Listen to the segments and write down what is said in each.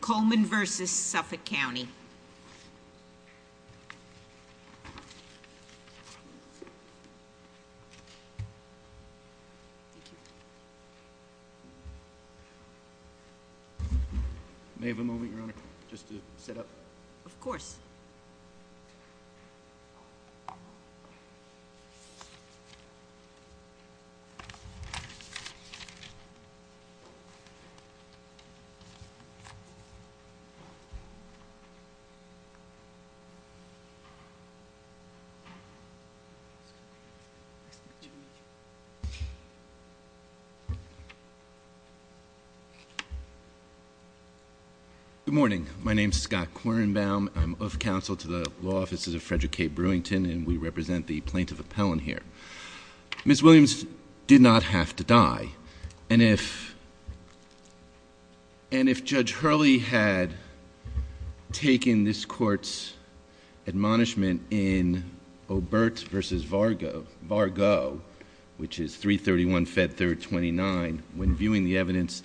Coleman v. Suffolk County May I have a moment, Your Honor, just to set up? Of course. Good morning. My name is Scott Quirenbaum. I'm of counsel to the law offices of Frederick K. Brewington, and we represent the plaintiff appellant here. Ms. Williams did not have to die. And if Judge Hurley had taken this court's admonishment in Obert v. Vargo, which is 331 Fed 3rd 29, when viewing the evidence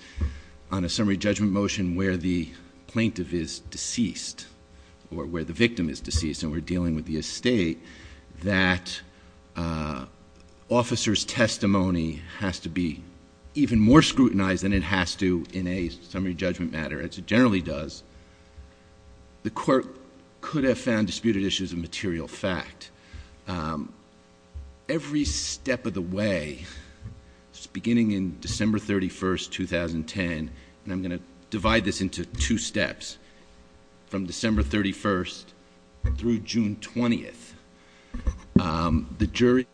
on a summary judgment motion where the plaintiff is deceased, or where the victim is deceased, and we're dealing with the estate, that officer's testimony has to be even more scrutinized than it has to in a summary judgment matter, as it generally does, the court could have found disputed issues of material fact. Every step of the way, beginning in December 31st, 2010, and I'm going to divide this into two steps, from December 31st through June 20th, the jury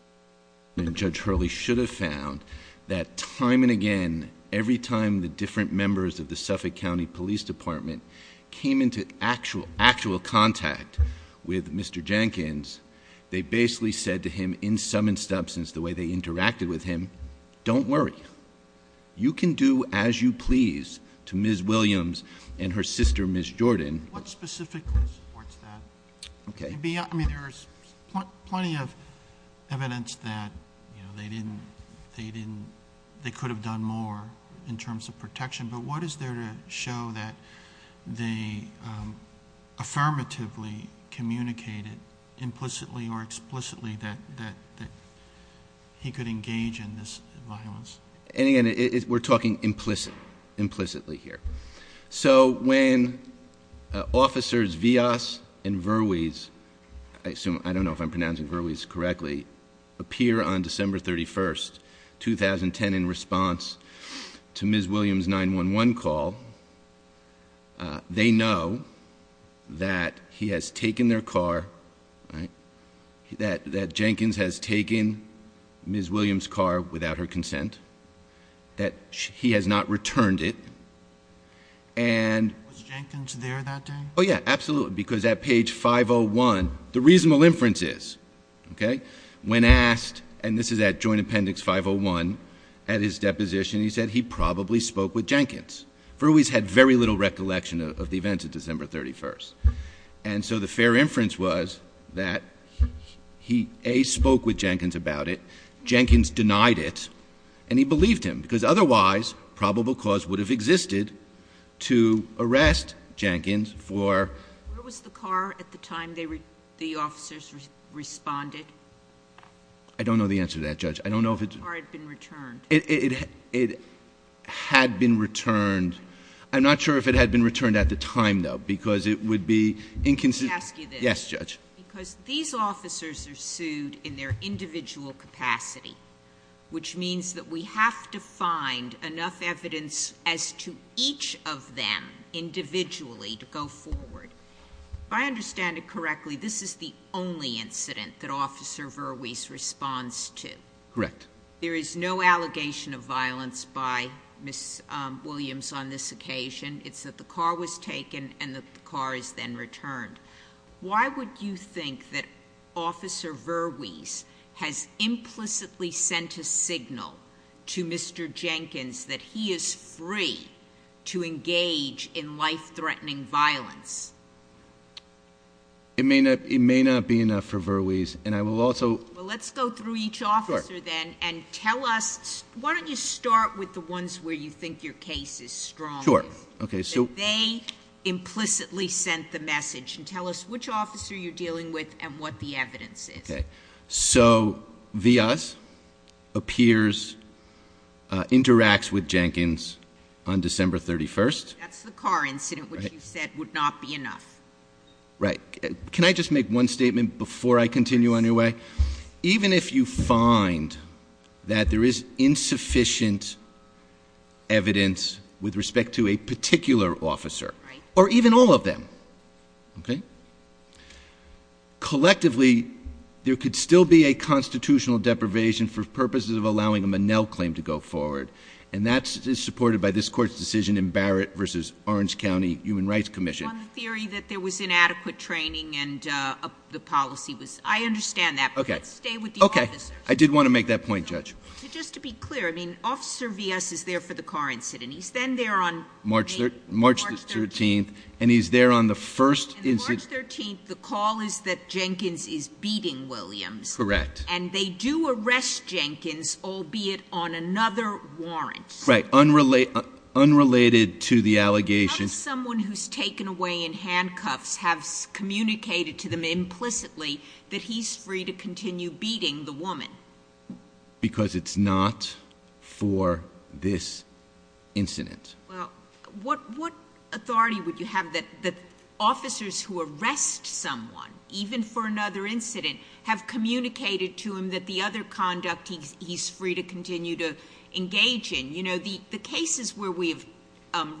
and Judge Hurley should have found that time and again, every time the different members of the Suffolk County Police Department came into actual contact with Mr. Jenkins, they basically said to him, in some instances, the way they interacted with him, don't worry. You can do as you please to Ms. Williams and her sister, Ms. Jordan. What specifically supports that? Okay. There's plenty of evidence that they could have done more in terms of protection, but what is there to show that they affirmatively communicated implicitly or explicitly that he could engage in this violence? And again, we're talking implicitly here. So when officers Villas and Verwees, I don't know if I'm pronouncing Verwees correctly, appear on December 31st, 2010, in response to Ms. Williams' 911 call, they know that he has taken their car, that Jenkins has taken Ms. Williams' car without her consent, that he has not returned it, and Was Jenkins there that day? Oh, yeah, absolutely, because at page 501, the reasonable inference is, okay, when asked, and this is at Joint Appendix 501, at his deposition, he said he probably spoke with Jenkins. Verwees had very little recollection of the events of December 31st. And so the fair inference was that he, A, spoke with Jenkins about it, Jenkins denied it, and he believed him. Because otherwise, probable cause would have existed to arrest Jenkins for Where was the car at the time the officers responded? I don't know the answer to that, Judge. I don't know if it's Or it had been returned. It had been returned. I'm not sure if it had been returned at the time, though, because it would be inconsistent Let me ask you this. Yes, Judge. Because these officers are sued in their individual capacity, Which means that we have to find enough evidence as to each of them individually to go forward. If I understand it correctly, this is the only incident that Officer Verwees responds to. Correct. There is no allegation of violence by Ms. Williams on this occasion. It's that the car was taken and that the car is then returned. Why would you think that Officer Verwees has implicitly sent a signal to Mr. Jenkins That he is free to engage in life-threatening violence? It may not be enough for Verwees, and I will also Well, let's go through each officer, then, and tell us Why don't you start with the ones where you think your case is strongest? Sure. They implicitly sent the message. Tell us which officer you're dealing with and what the evidence is. Okay. So, Villas appears, interacts with Jenkins on December 31st. That's the car incident, which you said would not be enough. Right. Can I just make one statement before I continue on your way? Even if you find that there is insufficient evidence with respect to a particular officer, or even all of them, okay? Collectively, there could still be a constitutional deprivation for purposes of allowing a Monell claim to go forward. And that is supported by this Court's decision in Barrett v. Orange County Human Rights Commission. I agree with you on the theory that there was inadequate training and the policy was I understand that. Okay. Stay with the officers. Okay. I did want to make that point, Judge. Just to be clear, I mean, Officer Villas is there for the car incident. He's then there on March 13th, and he's there on the first incident March 13th, the call is that Jenkins is beating Williams. Correct. And they do arrest Jenkins, albeit on another warrant. Right. Unrelated to the allegation What if someone who's taken away in handcuffs has communicated to them implicitly that he's free to continue beating the woman? Because it's not for this incident. Well, what authority would you have that officers who arrest someone, even for another incident, have communicated to him that the other conduct he's free to continue to engage in? You know, the cases where we've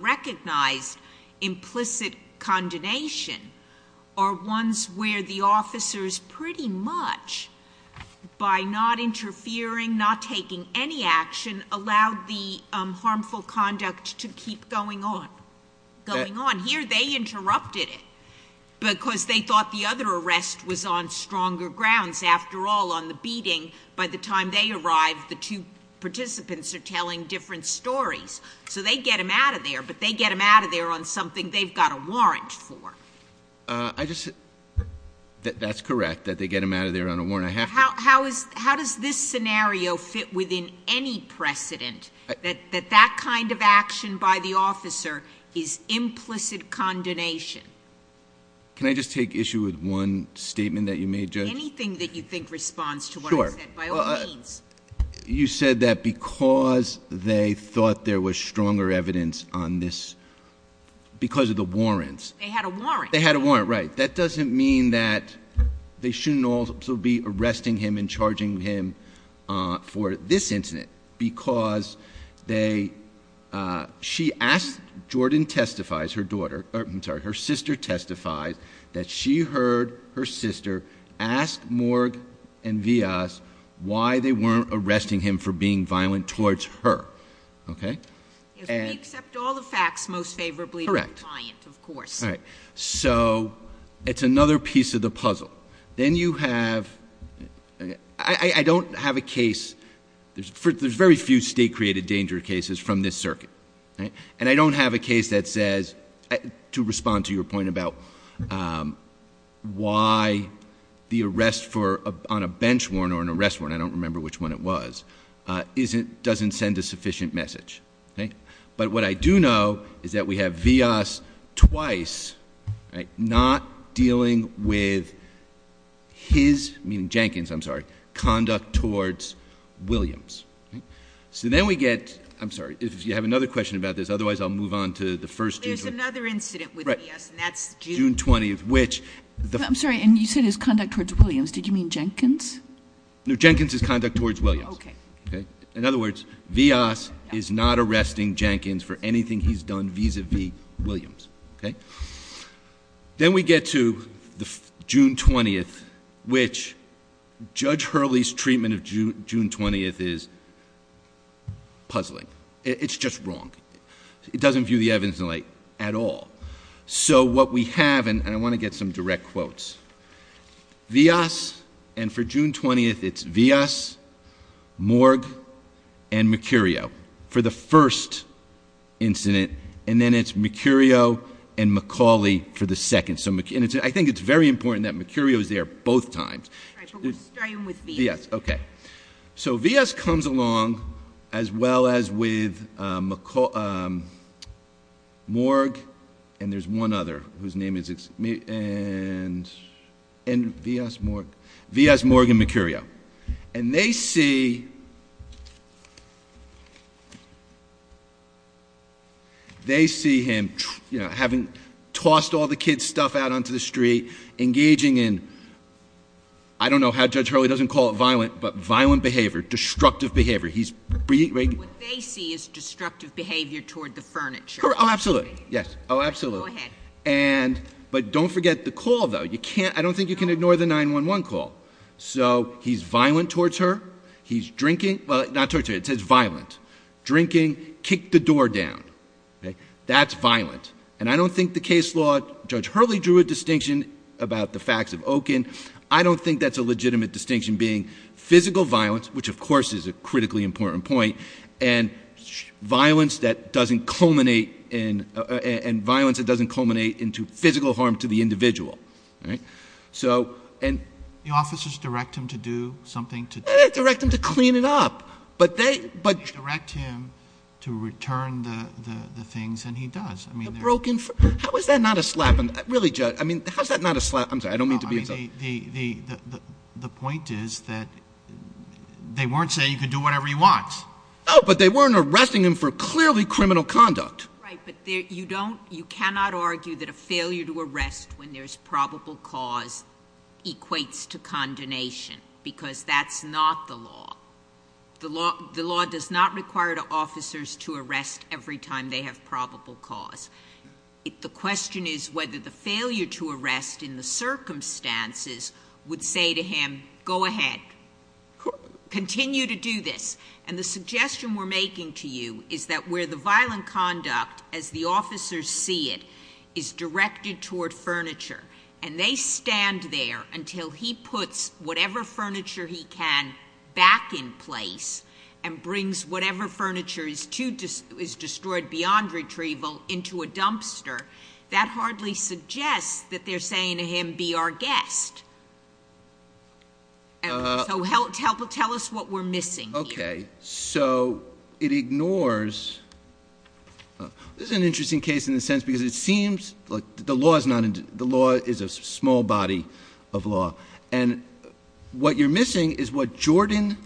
recognized implicit condemnation are ones where the officers pretty much, by not interfering, not taking any action, allowed the harmful conduct to keep going on. Going on. Here they interrupted it because they thought the other arrest was on stronger grounds. After all, on the beating, by the time they arrived, the two participants are telling different stories. So they get him out of there, but they get him out of there on something they've got a warrant for. That's correct, that they get him out of there on a warrant. How does this scenario fit within any precedent that that kind of action by the officer is implicit condemnation? Can I just take issue with one statement that you made, Judge? Anything that you think responds to what I said, by all means. You said that because they thought there was stronger evidence on this because of the warrants. They had a warrant. They had a warrant, right. That doesn't mean that they shouldn't also be arresting him and charging him for this incident because they, she asked, Jordan testifies, her daughter, I'm sorry, her sister testifies that she heard her sister ask Morg and Vias why they weren't arresting him for being violent towards her. Okay? Yes, we accept all the facts most favorably. Correct. Of course. All right. So, it's another piece of the puzzle. Then you have, I don't have a case, there's very few state created danger cases from this circuit. And I don't have a case that says, to respond to your point about why the arrest on a bench warrant or an arrest warrant, I don't remember which one it was, doesn't send a sufficient message. But what I do know is that we have Vias twice not dealing with his, meaning Jenkins, I'm sorry, conduct towards Williams. So then we get, I'm sorry, if you have another question about this, otherwise I'll move on to the first. There's another incident with Vias and that's June. June 20th, which. I'm sorry, and you said his conduct towards Williams. Did you mean Jenkins? No, Jenkins' conduct towards Williams. Okay. In other words, Vias is not arresting Jenkins for anything he's done vis-a-vis Williams. Okay. Then we get to June 20th, which Judge Hurley's treatment of June 20th is puzzling. It's just wrong. It doesn't view the evidence in light at all. So what we have, and I want to get some direct quotes. Vias, and for June 20th it's Vias, Morg, and Mercurio for the first incident. And then it's Mercurio and McCauley for the second. So I think it's very important that Mercurio is there both times. Right, but we're starting with Vias. Vias, okay. So Vias comes along as well as with Morg, and there's one other whose name is... Vias, Morg, and Mercurio. And they see him having tossed all the kids' stuff out onto the street, engaging in... What they see is destructive behavior toward the furniture. Oh, absolutely. Yes. Oh, absolutely. Go ahead. But don't forget the call, though. I don't think you can ignore the 911 call. So he's violent towards her. He's drinking... well, not towards her. It says violent. Drinking kicked the door down. That's violent. And I don't think the case law... Judge Hurley drew a distinction about the facts of Okun. I don't think that's a legitimate distinction being physical violence, which of course is a critically important point, and violence that doesn't culminate into physical harm to the individual. All right? So... The officers direct him to do something to... They direct him to clean it up. But they... They direct him to return the things, and he does. The broken... how is that not a slap in the... really, Judge. I mean, how is that not a slap in the... I'm sorry. I don't mean to be... The point is that they weren't saying you can do whatever you want. No, but they weren't arresting him for clearly criminal conduct. Right, but you don't... you cannot argue that a failure to arrest when there's probable cause equates to condemnation, because that's not the law. The law does not require officers to arrest every time they have probable cause. The question is whether the failure to arrest in the circumstances would say to him, go ahead, continue to do this. And the suggestion we're making to you is that where the violent conduct, as the officers see it, is directed toward furniture, and they stand there until he puts whatever furniture he can back in place and brings whatever furniture is destroyed beyond retrieval into a dumpster, that hardly suggests that they're saying to him, be our guest. So tell us what we're missing here. Okay. So it ignores... this is an interesting case in the sense because it seems... The law is a small body of law. And what you're missing is what Jordan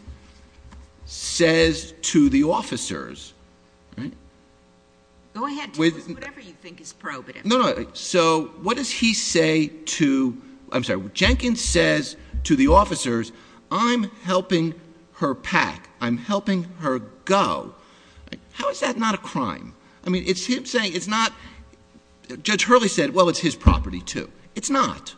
says to the officers, right? Go ahead. Tell us whatever you think is probative. No, no. So what does he say to... I'm sorry. Jenkins says to the officers, I'm helping her pack. I'm helping her go. How is that not a crime? I mean, it's him saying it's not... Judge Hurley said, well, it's his property, too. It's not.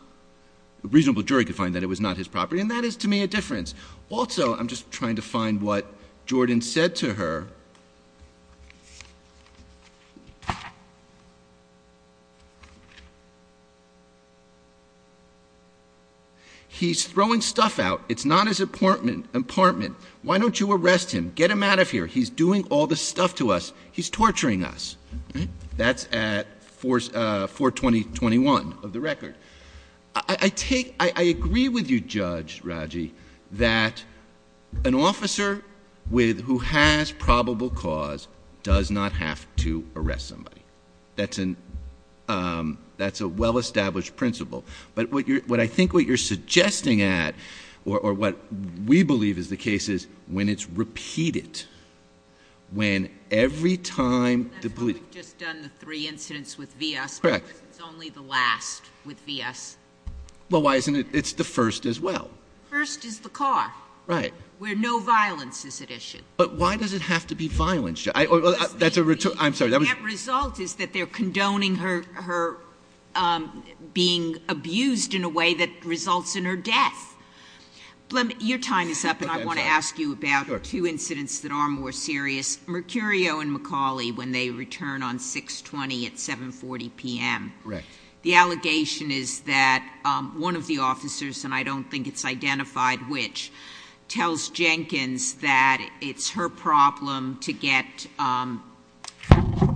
A reasonable jury could find that it was not his property, and that is, to me, a difference. Also, I'm just trying to find what Jordan said to her. He's throwing stuff out. It's not his apartment. Why don't you arrest him? Get him out of here. He's doing all this stuff to us. He's torturing us. That's at 420.21 of the record. I take... I agree with you, Judge Raji, that an officer who has probable cause does not have to arrest somebody. That's a well-established principle. But I think what you're suggesting at, or what we believe is the case is, when it's repeated, when every time... That's why we've just done the three incidents with V.S. Correct. Because it's only the last with V.S. Well, why isn't it... It's the first as well. First is the car. Right. Where no violence is at issue. But why does it have to be violence, Judge? That's a... I'm sorry. That result is that they're condoning her being abused in a way that results in her death. Your time is up, and I want to ask you about two incidents that are more serious, Mercurio and McCauley, when they return on 620 at 740 p.m. Correct. The allegation is that one of the officers, and I don't think it's identified which, tells Jenkins that it's her problem to get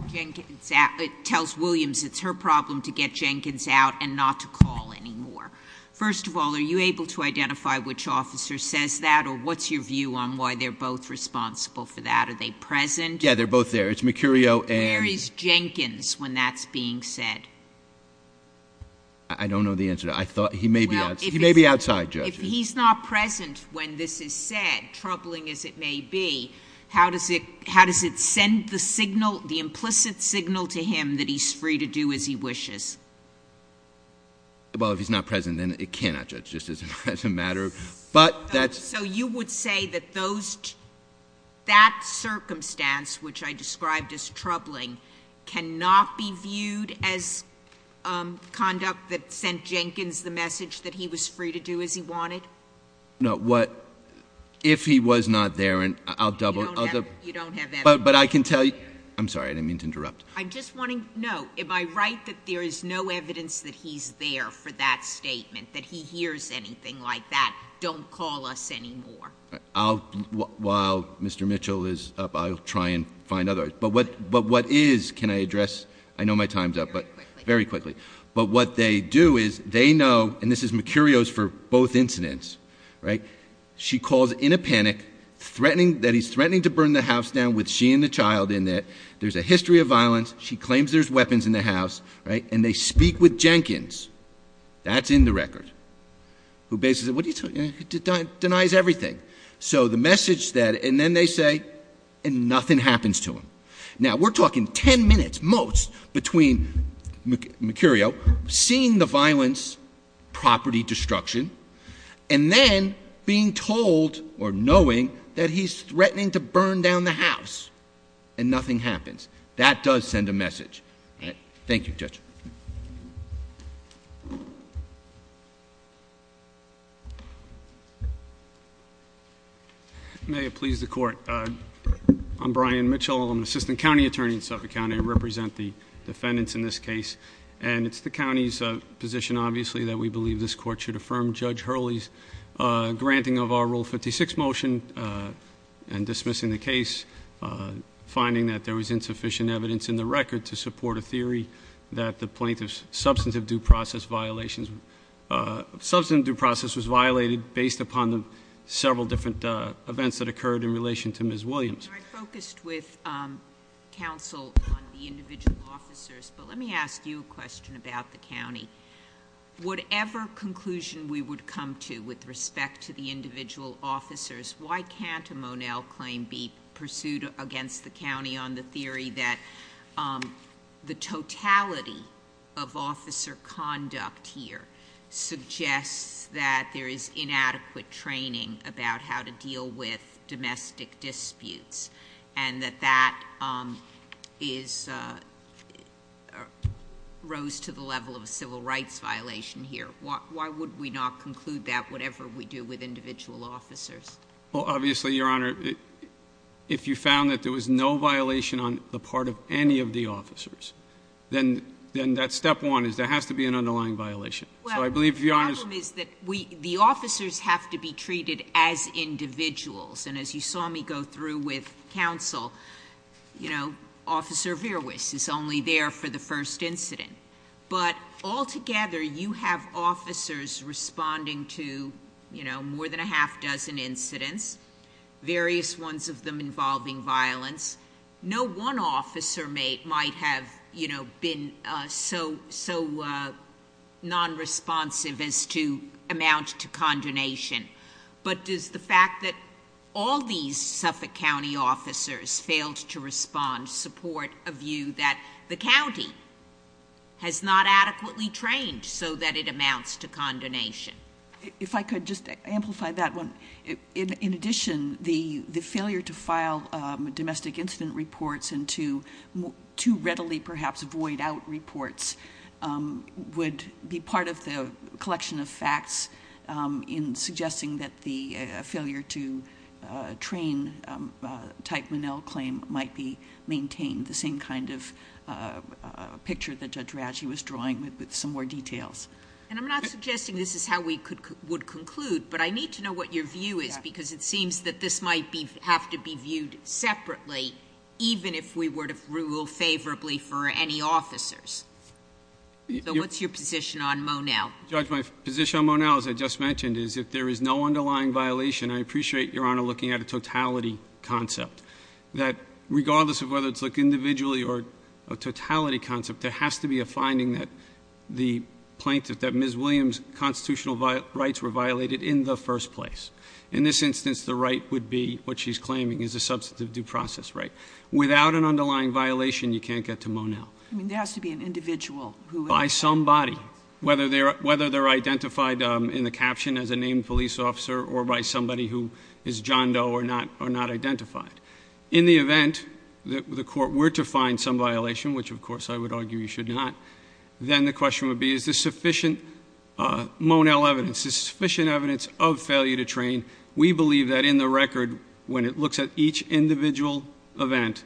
Jenkins out... It tells Williams it's her problem to get Jenkins out and not to call anymore. First of all, are you able to identify which officer says that, or what's your view on why they're both responsible for that? Are they present? Yeah, they're both there. It's Mercurio and... Where is Jenkins when that's being said? I don't know the answer to that. I thought he may be... Well, if he's... He may be outside, Judge. If he's not present when this is said, troubling as it may be, how does it send the signal, the implicit signal to him that he's free to do as he wishes? Well, if he's not present, then it cannot, Judge, just as a matter of... So, you would say that those...... cannot be viewed as conduct that sent Jenkins the message that he was free to do as he wanted? No. What... If he was not there, and I'll double... You don't have... But I can tell you... I'm sorry. I didn't mean to interrupt. I'm just wanting... No. Am I right that there is no evidence that he's there for that statement, that he hears anything like that, don't call us anymore? I'll... While Mr. Mitchell is up, I'll try and find others. But what... But what is... Can I address... I know my time's up, but... Very quickly. Very quickly. But what they do is, they know, and this is Mercurio's for both incidents, right? She calls in a panic, threatening... that he's threatening to burn the house down with she and the child in it. There's a history of violence. She claims there's weapons in the house, right? And they speak with Jenkins. That's in the record. Who basically... What are you talking... Denies everything. So, the message that... And then they say, and nothing happens to him. Now, we're talking ten minutes, most, between Mercurio seeing the violence, property destruction, and then being told, or knowing, that he's threatening to burn down the house. And nothing happens. That does send a message. Thank you, Judge. May it please the court. I'm Brian Mitchell. I'm an assistant county attorney in Suffolk County. I represent the defendants in this case. And it's the county's position, obviously, that we believe this court should affirm Judge Hurley's granting of our Rule 56 motion and dismissing the case, finding that there was insufficient evidence in the record to support a theory that the plaintiff's substantive due process violations... Substantive due process was violated based upon the several different events that occurred in relation to Ms. Williams. I focused with counsel on the individual officers, but let me ask you a question about the county. Whatever conclusion we would come to with respect to the individual officers, why can't a Monell claim be pursued against the county on the theory that the totality of officer conduct here, suggests that there is inadequate training about how to deal with domestic disputes, and that that is... rose to the level of a civil rights violation here? Why would we not conclude that, whatever we do with individual officers? Well, obviously, Your Honor, if you found that there was no violation on the part of any of the officers, then that's step one, is there has to be an underlying violation. So, I believe, if you're honest... Well, the problem is that the officers have to be treated as individuals. And, as you saw me go through with counsel, you know, Officer Verwiss is only there for the first incident. But, altogether, you have officers responding to, you know, more than a half dozen incidents, various ones of them involving violence. No one officer might have, you know, been so non-responsive as to amount to condemnation. But, does the fact that all these Suffolk County officers failed to respond, support a view that the county has not adequately trained so that it amounts to condemnation? If I could just amplify that one. In addition, the failure to file domestic incident reports and to readily, perhaps, void out reports, would be part of the collection of facts in suggesting that the failure to train a Type 1L claim might be maintained, the same kind of picture that Judge Raggi was drawing with some more details. And, I'm not suggesting this is how we would conclude, but I need to know what your view is because it seems that this might have to be viewed separately, even if we were to rule favorably for any officers. So, what's your position on Monell? Judge, my position on Monell, as I just mentioned, is if there is no underlying violation, I appreciate Your Honor looking at a totality concept. That, regardless of whether it's looked individually or a totality concept, there has to be a finding that the plaintiff, that Ms. Williams' constitutional rights were violated in the first place. In this instance, the right would be what she's claiming is a substantive due process right. Without an underlying violation, you can't get to Monell. I mean, there has to be an individual who has that right. By somebody, whether they're identified in the caption as a named police officer or by somebody who is John Doe or not identified. In the event that the court were to find some violation, which, of course, I would argue you should not, then the question would be, is there sufficient Monell evidence, is there sufficient evidence of failure to train? We believe that in the record, when it looks at each individual event,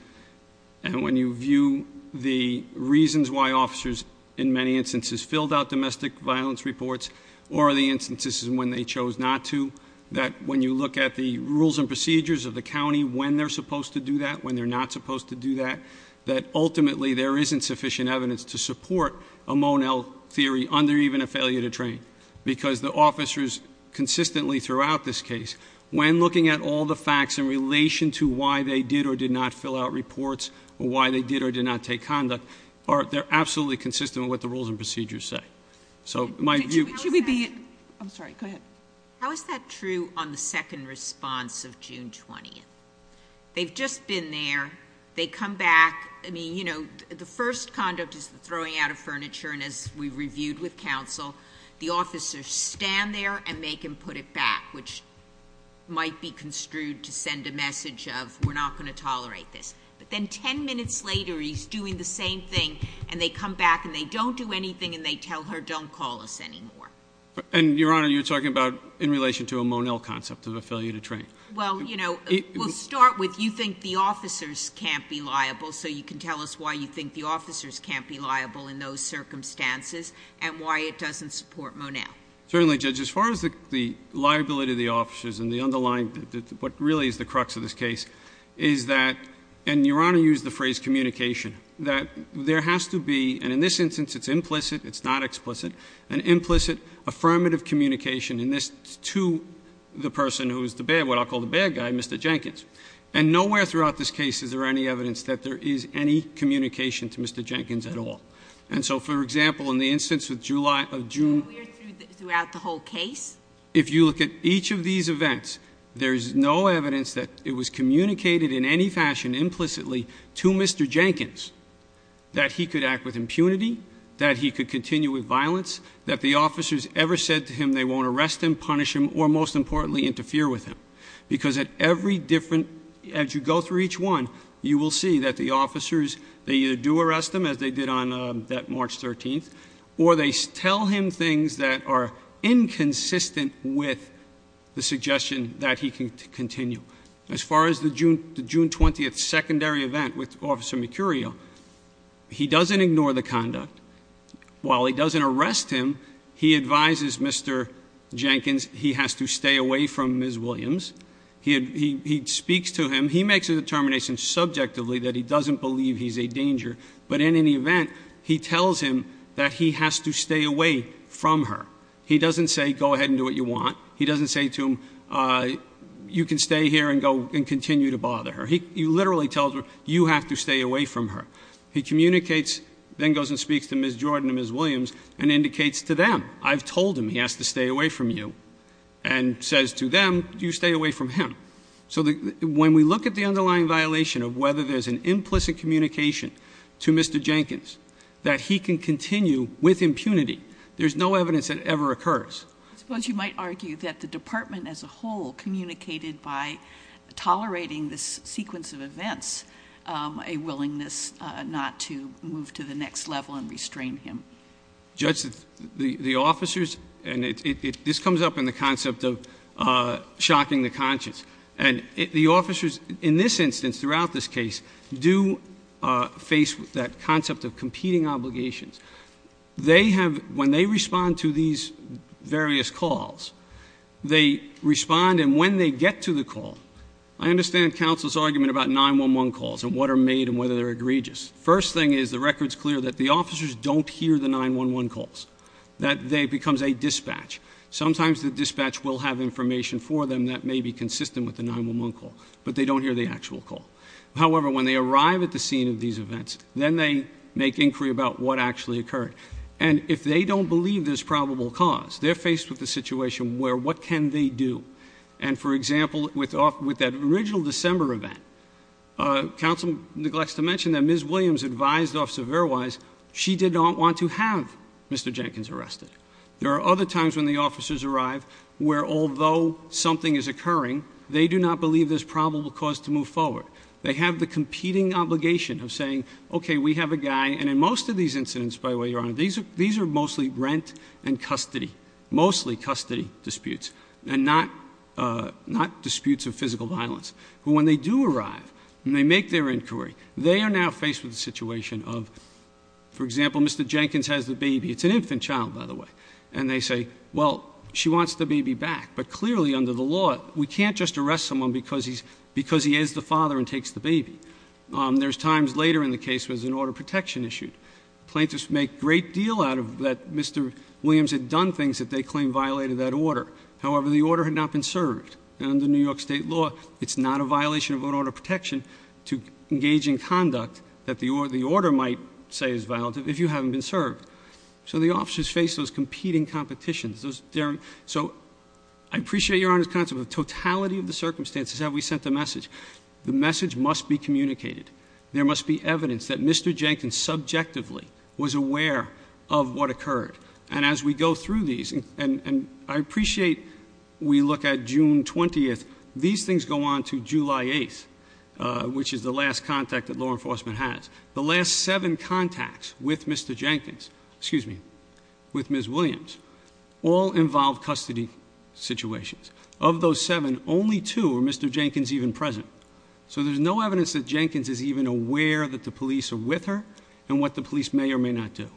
and when you view the reasons why officers, in many instances, filled out domestic violence reports or the instances when they chose not to, that when you look at the rules and procedures of the county, when they're supposed to do that, when they're not supposed to do that, that ultimately there isn't sufficient evidence to support a Monell theory under even a failure to train. Because the officers consistently throughout this case, when looking at all the facts in relation to why they did or did not fill out reports or why they did or did not take conduct, they're absolutely consistent with what the rules and procedures say. So my view— Should we be—I'm sorry, go ahead. How is that true on the second response of June 20th? They've just been there. They come back. I mean, you know, the first conduct is the throwing out of furniture. And as we've reviewed with counsel, the officers stand there and make him put it back, which might be construed to send a message of we're not going to tolerate this. But then 10 minutes later he's doing the same thing, and they come back and they don't do anything and they tell her don't call us anymore. And, Your Honor, you're talking about in relation to a Monell concept of a failure to train. Well, you know, we'll start with you think the officers can't be liable, so you can tell us why you think the officers can't be liable in those circumstances and why it doesn't support Monell. Certainly, Judge. As far as the liability of the officers and the underlying—what really is the crux of this case is that— and, Your Honor, used the phrase communication— that there has to be, and in this instance it's implicit, it's not explicit, an implicit affirmative communication in this to the person who is the bad— what I'll call the bad guy, Mr. Jenkins. And nowhere throughout this case is there any evidence that there is any communication to Mr. Jenkins at all. And so, for example, in the instance of July—of June— We're throughout the whole case. If you look at each of these events, there's no evidence that it was communicated in any fashion implicitly to Mr. Jenkins that he could act with impunity, that he could continue with violence, that the officers ever said to him they won't arrest him, punish him, or, most importantly, interfere with him. Because at every different—as you go through each one, you will see that the officers, they either do arrest him, as they did on that March 13th, or they tell him things that are inconsistent with the suggestion that he can continue. As far as the June 20th secondary event with Officer Mercurio, he doesn't ignore the conduct. While he doesn't arrest him, he advises Mr. Jenkins he has to stay away from Ms. Williams. He speaks to him. He makes a determination subjectively that he doesn't believe he's a danger. But in any event, he tells him that he has to stay away from her. He doesn't say, go ahead and do what you want. He doesn't say to him, you can stay here and continue to bother her. He literally tells her, you have to stay away from her. He communicates, then goes and speaks to Ms. Jordan and Ms. Williams and indicates to them, I've told him he has to stay away from you, and says to them, you stay away from him. So when we look at the underlying violation of whether there's an implicit communication to Mr. Jenkins that he can continue with impunity, there's no evidence that ever occurs. I suppose you might argue that the department as a whole communicated by tolerating this sequence of events, a willingness not to move to the next level and restrain him. Judge, the officers, and this comes up in the concept of shocking the conscience, and the officers in this instance, throughout this case, do face that concept of competing obligations. When they respond to these various calls, they respond, and when they get to the call, I understand counsel's argument about 911 calls and what are made and whether they're egregious. First thing is the record's clear that the officers don't hear the 911 calls, that it becomes a dispatch. Sometimes the dispatch will have information for them that may be consistent with the 911 call, but they don't hear the actual call. However, when they arrive at the scene of these events, then they make inquiry about what actually occurred. And if they don't believe there's probable cause, they're faced with a situation where what can they do? And for example, with that original December event, counsel neglects to mention that Ms. Williams advised Officer Verwise she did not want to have Mr. Jenkins arrested. There are other times when the officers arrive where although something is occurring, they do not believe there's probable cause to move forward. They have the competing obligation of saying, okay, we have a guy. And in most of these incidents, by the way, Your Honor, these are mostly rent and custody, mostly custody disputes and not disputes of physical violence. But when they do arrive and they make their inquiry, they are now faced with a situation of, for example, Mr. Jenkins has the baby. It's an infant child, by the way. And they say, well, she wants the baby back. But clearly under the law, we can't just arrest someone because he is the father and takes the baby. There's times later in the case where there's an order of protection issued. Plaintiffs make great deal out of that Mr. Williams had done things that they claim violated that order. However, the order had not been served. And under New York State law, it's not a violation of an order of protection to engage in conduct that the order might say is violative if you haven't been served. So the officers face those competing competitions. So I appreciate Your Honor's concept of totality of the circumstances that we sent the message. The message must be communicated. There must be evidence that Mr. Jenkins subjectively was aware of what occurred. And as we go through these, and I appreciate we look at June 20th. These things go on to July 8th, which is the last contact that law enforcement has. The last seven contacts with Mr. Jenkins, excuse me, with Ms. Williams, all involve custody situations. Of those seven, only two are Mr. Jenkins even present. So there's no evidence that Jenkins is even aware that the police are with her and what the police may or may not do.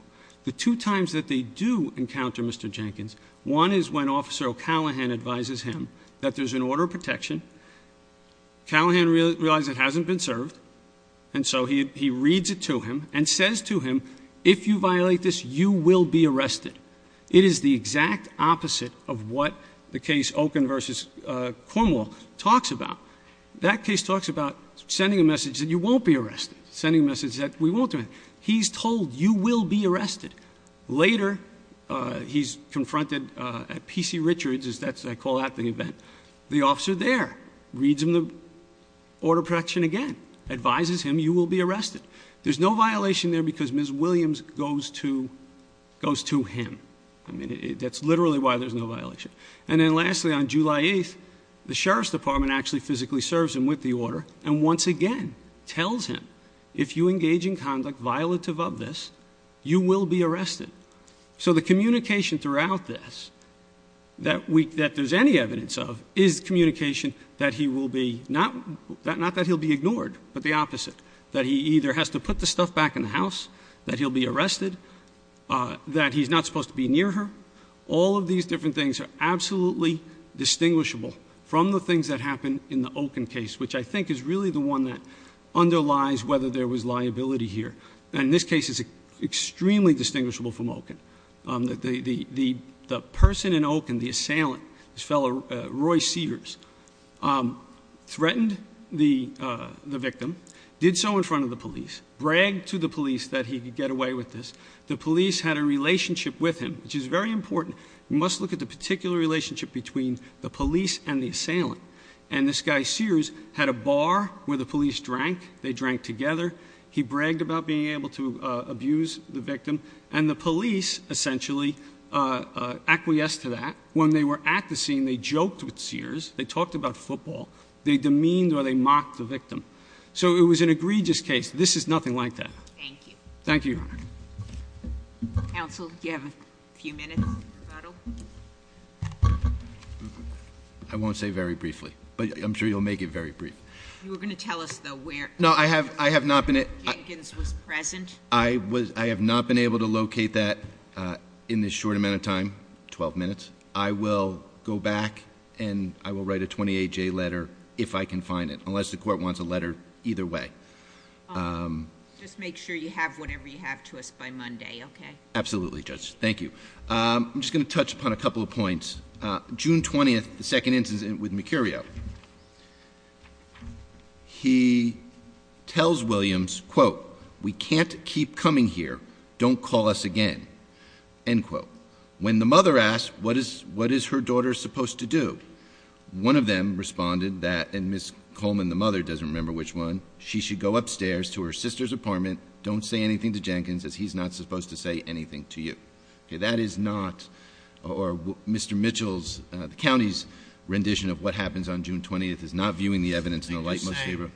The two times that they do encounter Mr. Jenkins, one is when Officer O'Callaghan advises him that there's an order of protection. Callaghan realizes it hasn't been served, and so he reads it to him and says to him, if you violate this, you will be arrested. It is the exact opposite of what the case Okun v. Cornwall talks about. That case talks about sending a message that you won't be arrested, sending a message that we won't do it. He's told you will be arrested. Later, he's confronted at P.C. Richards, as I call out the event. The officer there reads him the order of protection again, advises him you will be arrested. There's no violation there because Ms. Williams goes to him. I mean, that's literally why there's no violation. And then lastly, on July 8th, the Sheriff's Department actually physically serves him with the order, and once again tells him, if you engage in conduct violative of this, you will be arrested. So the communication throughout this that there's any evidence of is communication that he will be, not that he'll be ignored, but the opposite, that he either has to put the stuff back in the house, that he'll be arrested, that he's not supposed to be near her. All of these different things are absolutely distinguishable from the things that happen in the Oken case, which I think is really the one that underlies whether there was liability here. And this case is extremely distinguishable from Oken. The person in Oken, the assailant, this fellow, Roy Sears, threatened the victim, did so in front of the police, bragged to the police that he could get away with this. The police had a relationship with him, which is very important. You must look at the particular relationship between the police and the assailant. And this guy, Sears, had a bar where the police drank. They drank together. He bragged about being able to abuse the victim. And the police essentially acquiesced to that. When they were at the scene, they joked with Sears. They talked about football. They demeaned or they mocked the victim. So it was an egregious case. This is nothing like that. Thank you. Thank you. Counsel, do you have a few minutes? I won't say very briefly, but I'm sure you'll make it very brief. You were going to tell us, though, where Jenkins was present. I have not been able to locate that in this short amount of time, 12 minutes. I will go back and I will write a 28-J letter if I can find it, unless the court wants a letter either way. Just make sure you have whatever you have to us by Monday, okay? Absolutely, Judge. Thank you. I'm just going to touch upon a couple of points. June 20th, the second instance with Mercurio. He tells Williams, quote, we can't keep coming here. Don't call us again, end quote. When the mother asked, what is her daughter supposed to do? One of them responded that, and Ms. Coleman, the mother, doesn't remember which one. She should go upstairs to her sister's apartment, don't say anything to Jenkins, as he's not supposed to say anything to you. Okay, that is not, or Mr. Mitchell's, the county's rendition of what happens on June 20th is not viewing the evidence in the light most favorable.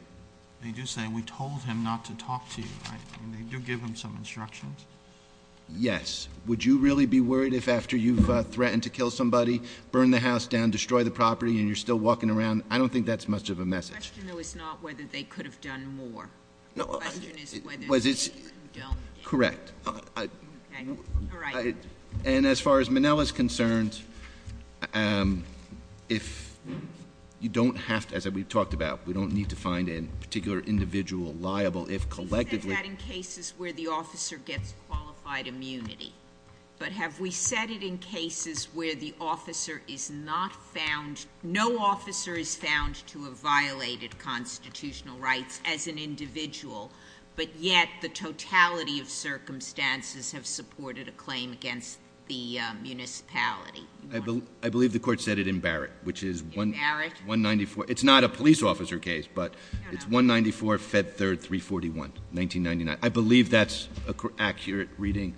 They do say, we told him not to talk to you, right, and they do give him some instructions. Yes, would you really be worried if after you've threatened to kill somebody, burn the house down, destroy the property, and you're still walking around? I don't think that's much of a message. The question, though, is not whether they could have done more. No, I- The question is whether- Correct. Okay, all right. And as far as Minnell is concerned, if you don't have to, as we've talked about, we don't need to find a particular individual liable if collectively- As far as qualified immunity, but have we said it in cases where the officer is not found, no officer is found to have violated constitutional rights as an individual, but yet the totality of circumstances have supported a claim against the municipality? I believe the court said it in Barrett, which is 194- In Barrett? It's not a police officer case, but- No, no. It's 194, Fed 3, 341, 1999. I believe that's an accurate reading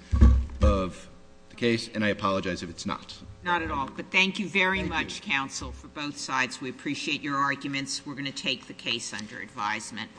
of the case, and I apologize if it's not. Not at all. But thank you very much, counsel, for both sides. We appreciate your arguments. We're going to take the case under advisement.